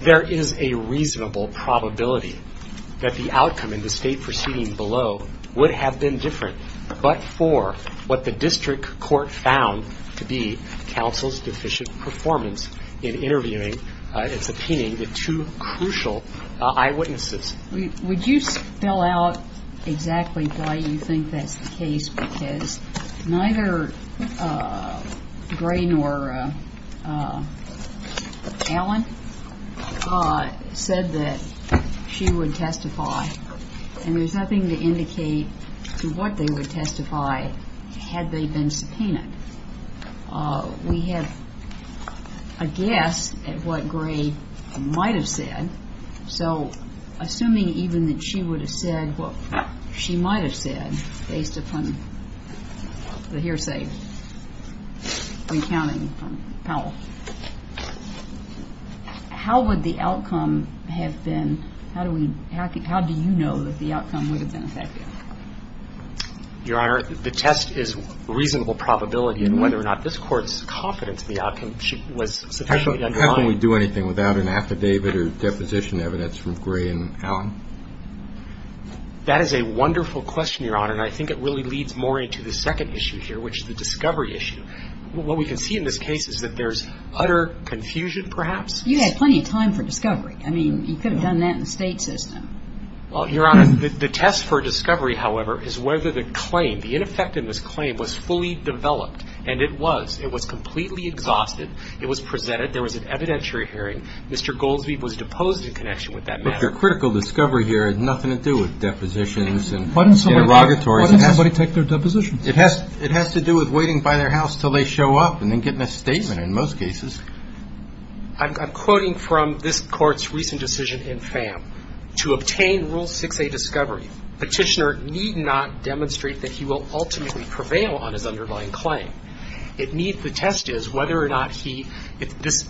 There is a reasonable probability that the outcome in the state proceeding below would have been different but for what the district court found to be counsel's deficient performance in interviewing and subpoenaing the two crucial eyewitnesses. Would you spell out exactly why you think that's the case because neither Gray nor Allen said that she would testify and there's nothing to indicate to what they would testify had they been subpoenaed. We have a guess at what Gray might have said so assuming even that she would have said what she might have said based upon the hearsay recounting from Powell, how would the outcome have been, how do we, how do you know that the outcome would have been effective? Your Honor, the test is reasonable probability and whether or not this Court's confidence in the outcome was sufficiently undermined. How can we do anything without an affidavit or deposition evidence from Gray and Allen? That is a wonderful question, Your Honor, and I think it really leads more into the second issue here which is the discovery issue. What we can see in this case is that there's utter confusion perhaps. You had plenty of time for discovery. I mean, you could have done that in the state system. Well, Your Honor, the test for discovery, however, is whether the claim, the ineffectiveness claim was fully developed and it was. It was completely exhausted. It was presented. There was an evidentiary hearing. Mr. Goldsby was deposed in connection with that matter. But the critical discovery here had nothing to do with depositions and interrogatories. Why didn't somebody take their deposition? It has to do with waiting by their house until they show up and then getting a statement in most cases. I'm quoting from this Court's recent decision in FAM. To obtain Rule 6a discovery, petitioner need not demonstrate that he will ultimately prevail on his underlying claim. It needs to test is whether or not he, this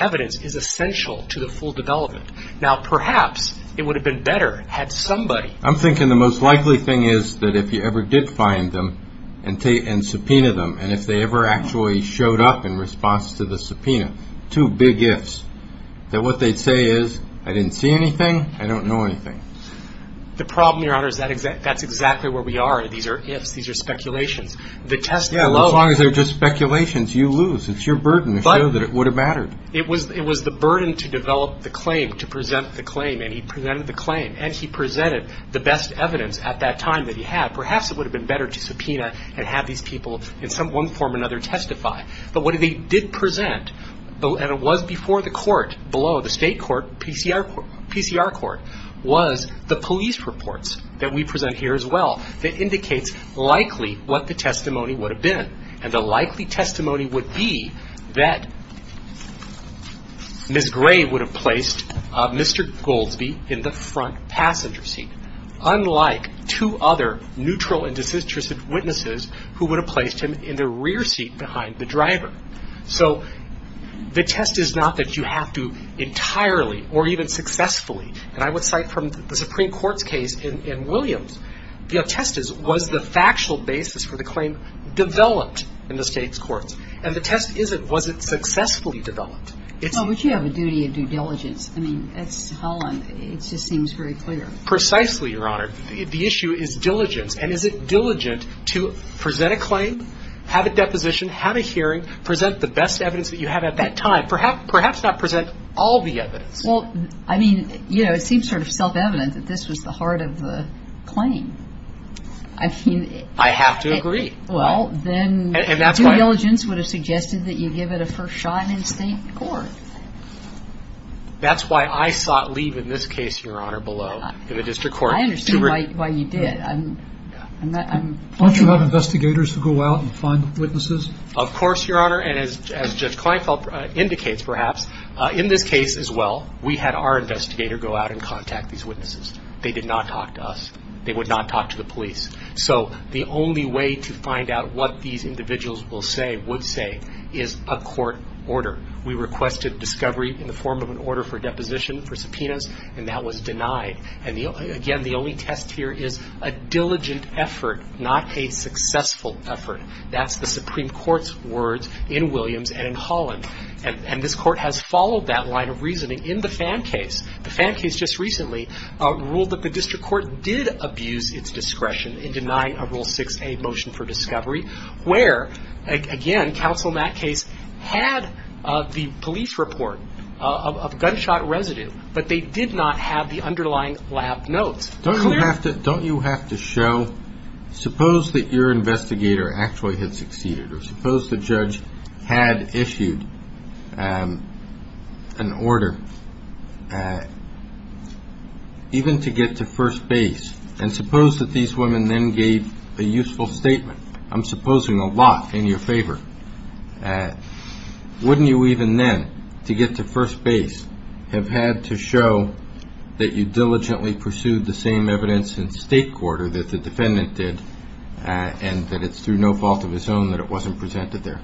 evidence is essential to the full development. Now, perhaps it would have been better had somebody. I'm thinking the most likely thing is that if you ever did find them and subpoena them and if they ever actually showed up in response to the subpoena, two big ifs, that what they'd say is I didn't see anything, I don't know anything. The problem, Your Honor, is that's exactly where we are. These are ifs. These are speculations. Yeah, as long as they're just speculations, you lose. It's your burden to show that it would have mattered. It was the burden to develop the claim, to present the claim, and he presented the claim. And he presented the best evidence at that time that he had. Now, perhaps it would have been better to subpoena and have these people in one form or another testify. But what they did present, and it was before the court, below the state court, PCR court, was the police reports that we present here as well that indicates likely what the testimony would have been. And the likely testimony would be that Ms. Gray would have placed Mr. Goldsby in the front passenger seat. Unlike two other neutral and disinterested witnesses who would have placed him in the rear seat behind the driver. So the test is not that you have to entirely or even successfully, and I would cite from the Supreme Court's case in Williams, the test is was the factual basis for the claim developed in the state's courts. And the test isn't was it successfully developed. Well, but you have a duty of due diligence. I mean, it's Holland. It just seems very clear. Precisely, Your Honor. The issue is diligence. And is it diligent to present a claim, have a deposition, have a hearing, present the best evidence that you have at that time. Perhaps not present all the evidence. Well, I mean, you know, it seems sort of self-evident that this was the heart of the claim. I mean. I have to agree. Well, then due diligence would have suggested that you give it a first shot in a state court. That's why I sought leave in this case, Your Honor, below in the district court. I understand why you did. Don't you have investigators to go out and find witnesses? Of course, Your Honor. And as Judge Kleinfeld indicates, perhaps, in this case as well, we had our investigator go out and contact these witnesses. They did not talk to us. They would not talk to the police. So the only way to find out what these individuals will say, would say, is a court order. We requested discovery in the form of an order for deposition for subpoenas, and that was denied. And, again, the only test here is a diligent effort, not a successful effort. That's the Supreme Court's words in Williams and in Holland. And this court has followed that line of reasoning in the Pham case. The Pham case just recently ruled that the district court did abuse its discretion in denying a Rule 6a motion for discovery, where, again, counsel in that case had the police report of gunshot residue, but they did not have the underlying lab notes. Don't you have to show, suppose that your investigator actually had succeeded, or suppose the judge had issued an order even to get to first base, and suppose that these women then gave a useful statement, I'm supposing a lot in your favor, wouldn't you even then, to get to first base, have had to show that you diligently pursued the same evidence in state court or that the defendant did, and that it's through no fault of his own that it wasn't presented there?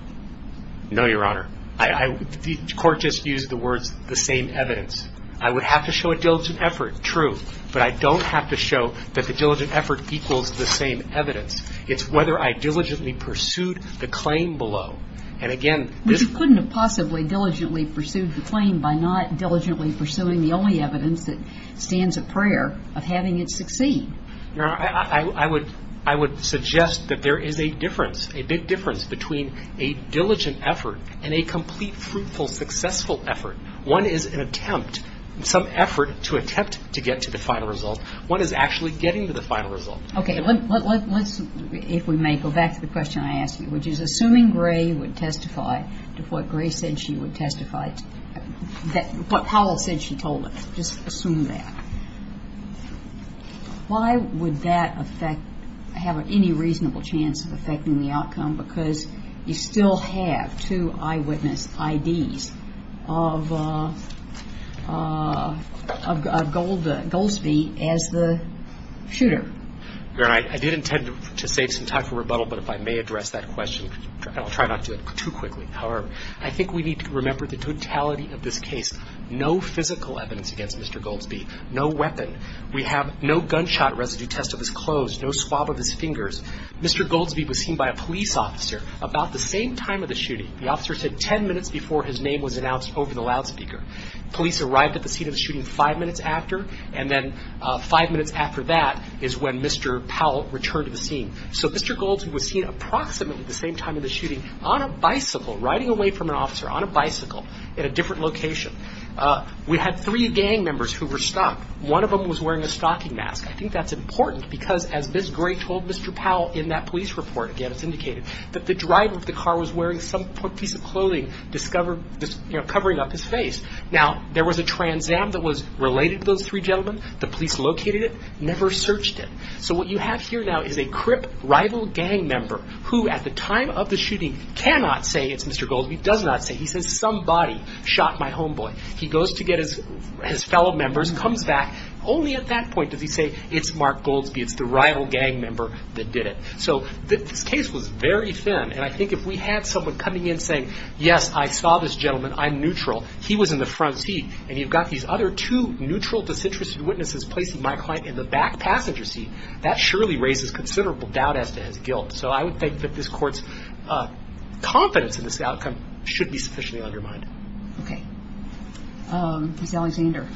No, Your Honor. The court just used the words, the same evidence. I would have to show a diligent effort, true, but I don't have to show that the diligent effort equals the same evidence. It's whether I diligently pursued the claim below. And, again, this ---- But you couldn't have possibly diligently pursued the claim by not diligently pursuing the only evidence that stands a prayer of having it succeed. Your Honor, I would suggest that there is a difference, a big difference between a diligent effort and a complete, fruitful, successful effort. One is an attempt, some effort to attempt to get to the final result. One is actually getting to the final result. Okay. Let's, if we may, go back to the question I asked you, which is assuming Gray would testify to what Gray said she would testify, what Powell said she told us, just assume that, because you still have two eyewitness IDs of Goldsby as the shooter. Your Honor, I did intend to save some time for rebuttal, but if I may address that question. I'll try not to do it too quickly. However, I think we need to remember the totality of this case. No physical evidence against Mr. Goldsby. No weapon. We have no gunshot residue test of his clothes, no swab of his fingers. Mr. Goldsby was seen by a police officer about the same time of the shooting. The officer said ten minutes before his name was announced over the loudspeaker. Police arrived at the scene of the shooting five minutes after, and then five minutes after that is when Mr. Powell returned to the scene. So Mr. Goldsby was seen approximately the same time of the shooting on a bicycle, riding away from an officer on a bicycle in a different location. We had three gang members who were stalked. One of them was wearing a stalking mask. I think that's important because, as Ms. Gray told Mr. Powell in that police report, again, it's indicated, that the driver of the car was wearing some piece of clothing covering up his face. Now, there was a transam that was related to those three gentlemen. The police located it, never searched it. So what you have here now is a crip rival gang member who, at the time of the shooting, cannot say it's Mr. Goldsby, does not say. He says somebody shot my homeboy. He goes to get his fellow members, comes back. Only at that point does he say it's Mark Goldsby, it's the rival gang member that did it. So this case was very thin, and I think if we had someone coming in saying, yes, I saw this gentleman, I'm neutral, he was in the front seat, and you've got these other two neutral, disinterested witnesses placing my client in the back passenger seat, that surely raises considerable doubt as to his guilt. So I would think that this Court's confidence in this outcome should be sufficiently undermined. Okay. Ms. Alexander.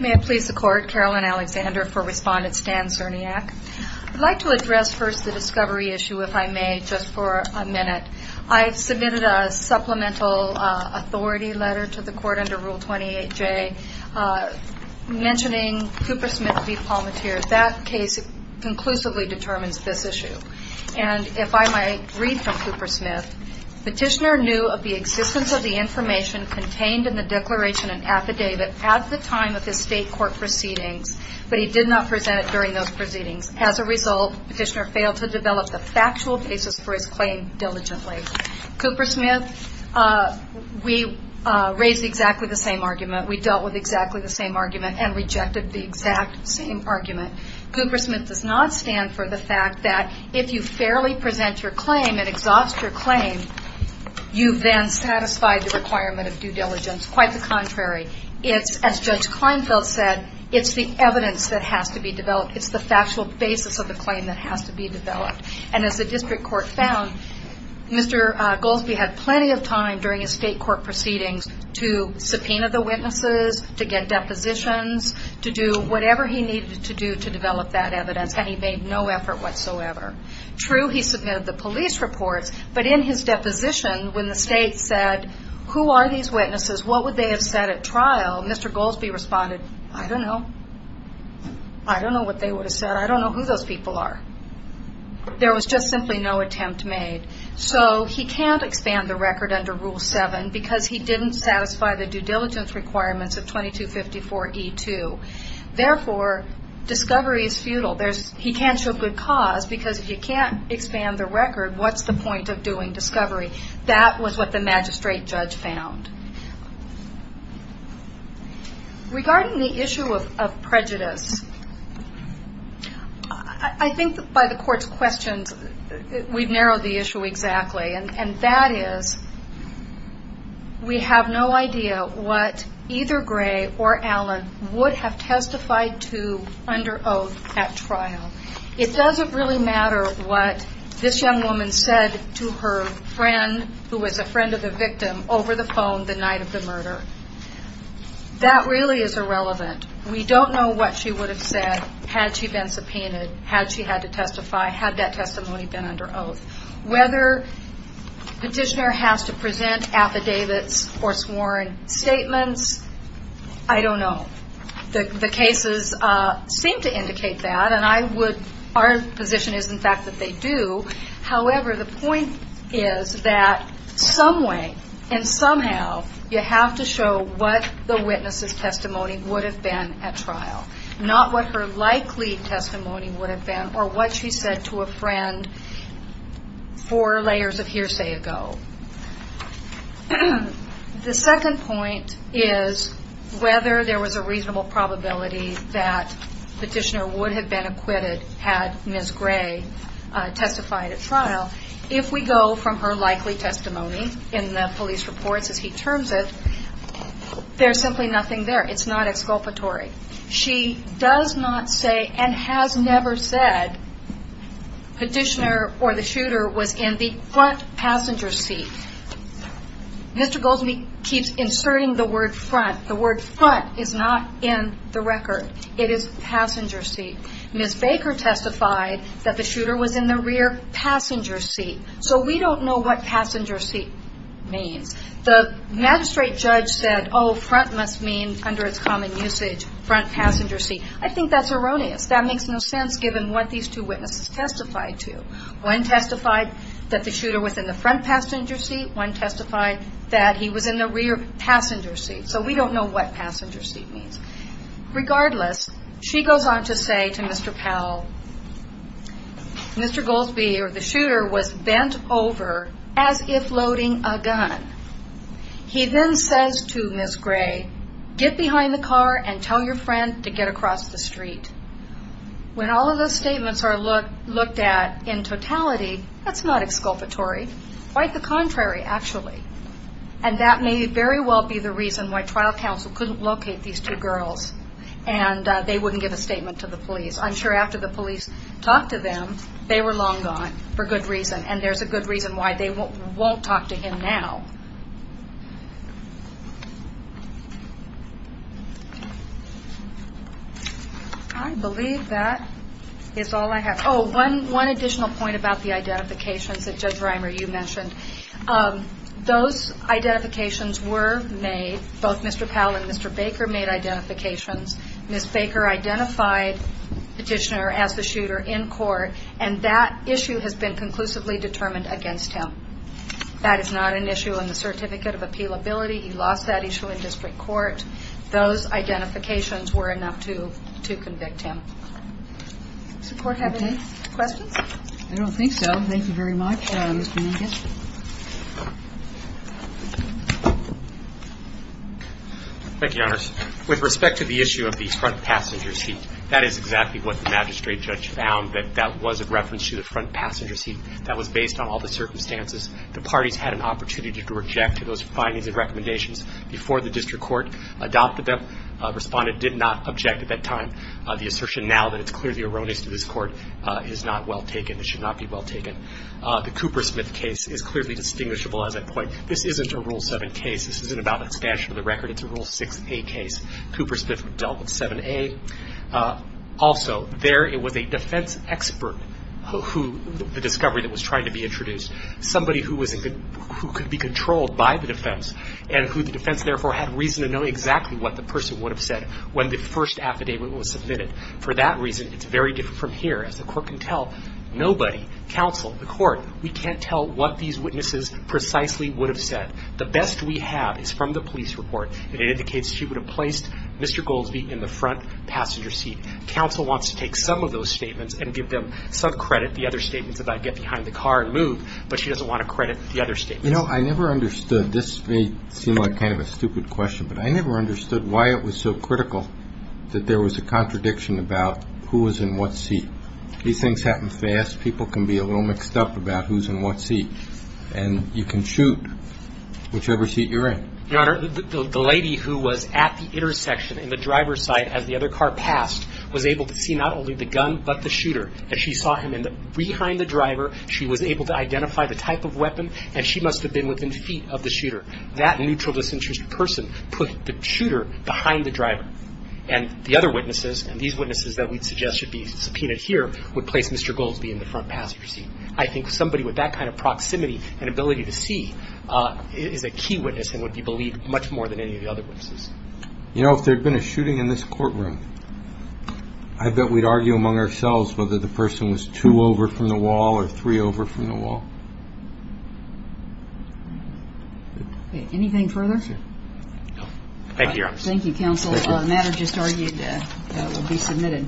May I please the Court? Carolyn Alexander for Respondent Stan Cerniak. I'd like to address first the discovery issue, if I may, just for a minute. I've submitted a supplemental authority letter to the Court under Rule 28J mentioning Cooper Smith v. Palmateer. That case conclusively determines this issue. And if I might read from Cooper Smith, Petitioner knew of the existence of the information contained in the declaration and affidavit at the time of the State Court proceedings, but he did not present it during those proceedings. As a result, Petitioner failed to develop the factual basis for his claim diligently. Cooper Smith, we raised exactly the same argument. We dealt with exactly the same argument and rejected the exact same argument. Cooper Smith does not stand for the fact that if you fairly present your claim and exhaust your claim, you then satisfy the requirement of due diligence. Quite the contrary. It's, as Judge Kleinfeld said, it's the evidence that has to be developed. It's the factual basis of the claim that has to be developed. And as the district court found, Mr. Goldsby had plenty of time during his State Court proceedings to subpoena the witnesses, to get depositions, to do whatever he needed to do to develop that evidence, and he made no effort whatsoever. True, he submitted the police reports, but in his deposition, when the State said, Who are these witnesses? What would they have said at trial? Mr. Goldsby responded, I don't know. I don't know what they would have said. I don't know who those people are. There was just simply no attempt made. So he can't expand the record under Rule 7 because he didn't satisfy the due diligence requirements of 2254E2. Therefore, discovery is futile. He can't show good cause because if you can't expand the record, what's the point of doing discovery? That was what the magistrate judge found. Regarding the issue of prejudice, I think by the court's questions, we've narrowed the issue exactly, and that is we have no idea what either Gray or Allen would have testified to under oath at trial. It doesn't really matter what this young woman said to her friend, who was a friend of the victim, over the phone the night of the murder. That really is irrelevant. We don't know what she would have said had she been subpoenaed, had she had to testify, had that testimony been under oath. Whether petitioner has to present affidavits or sworn statements, I don't know. The cases seem to indicate that, and our position is, in fact, that they do. However, the point is that some way and somehow you have to show what the witness's testimony would have been at trial, not what her likely testimony would have been or what she said to a friend four layers of hearsay ago. The second point is whether there was a reasonable probability that petitioner would have been acquitted had Ms. Gray testified at trial. If we go from her likely testimony in the police reports as he terms it, there's simply nothing there. It's not exculpatory. She does not say and has never said petitioner or the shooter was in the front passenger seat. Mr. Goldsmith keeps inserting the word front. The word front is not in the record. It is passenger seat. Ms. Baker testified that the shooter was in the rear passenger seat. So we don't know what passenger seat means. The magistrate judge said, oh, front must mean, under its common usage, front passenger seat. I think that's erroneous. That makes no sense given what these two witnesses testified to. One testified that the shooter was in the front passenger seat. One testified that he was in the rear passenger seat. So we don't know what passenger seat means. Regardless, she goes on to say to Mr. Powell, Mr. Goldsmith or the shooter was bent over as if loading a gun. He then says to Ms. Gray, get behind the car and tell your friend to get across the street. When all of those statements are looked at in totality, that's not exculpatory. Quite the contrary, actually. And that may very well be the reason why trial counsel couldn't locate these two girls and they wouldn't give a statement to the police. I'm sure after the police talked to them, they were long gone for good reason, and there's a good reason why they won't talk to him now. I believe that is all I have. Oh, one additional point about the identifications that Judge Reimer, you mentioned. Those identifications were made. Both Mr. Powell and Mr. Baker made identifications. Ms. Baker identified Petitioner as the shooter in court, and that issue has been conclusively determined against him. That is not an issue on the Certificate of Appealability. He lost that issue in district court. Those identifications were enough to convict him. Does the Court have any questions? I don't think so. Thank you very much, Mr. Nugent. Thank you, Your Honors. With respect to the issue of the front passenger seat, that is exactly what the magistrate judge found, that that was a reference to the front passenger seat. That was based on all the circumstances. The parties had an opportunity to reject those findings and recommendations before the district court adopted them. Respondent did not object at that time. The assertion now that it's clearly erroneous to this Court is not well taken. It should not be well taken. The Coopersmith case is clearly distinguishable, as I point. This isn't a Rule 7 case. This isn't about expansion of the record. It's a Rule 6a case. Coopersmith dealt with 7a. Also, there it was a defense expert who the discovery that was trying to be introduced, somebody who could be controlled by the defense, and who the defense, therefore, had reason to know exactly what the person would have said when the first affidavit was submitted. For that reason, it's very different from here. As the Court can tell, nobody, counsel, the Court, we can't tell what these witnesses precisely would have said. The best we have is from the police report. It indicates she would have placed Mr. Goldsby in the front passenger seat. Counsel wants to take some of those statements and give them some credit, the other statements, about get behind the car and move, but she doesn't want to credit the other statements. You know, I never understood. This may seem like kind of a stupid question, but I never understood why it was so critical that there was a contradiction about who was in what seat. These things happen fast. People can be a little mixed up about who's in what seat, and you can shoot whichever seat you're in. Your Honor, the lady who was at the intersection in the driver's side as the other car passed was able to see not only the gun but the shooter, and she saw him behind the driver. She was able to identify the type of weapon, and she must have been within feet of the shooter. That neutral disinterested person put the shooter behind the driver, and the other witnesses, and these witnesses that we'd suggest should be subpoenaed here, would place Mr. Goldsby in the front passenger seat. I think somebody with that kind of proximity and ability to see is a key witness and would be believed much more than any of the other witnesses. You know, if there had been a shooting in this courtroom, I bet we'd argue among ourselves whether the person was two over from the wall or three over from the wall. Anything further? Thank you, Your Honor. Thank you, counsel. The matter just argued will be submitted.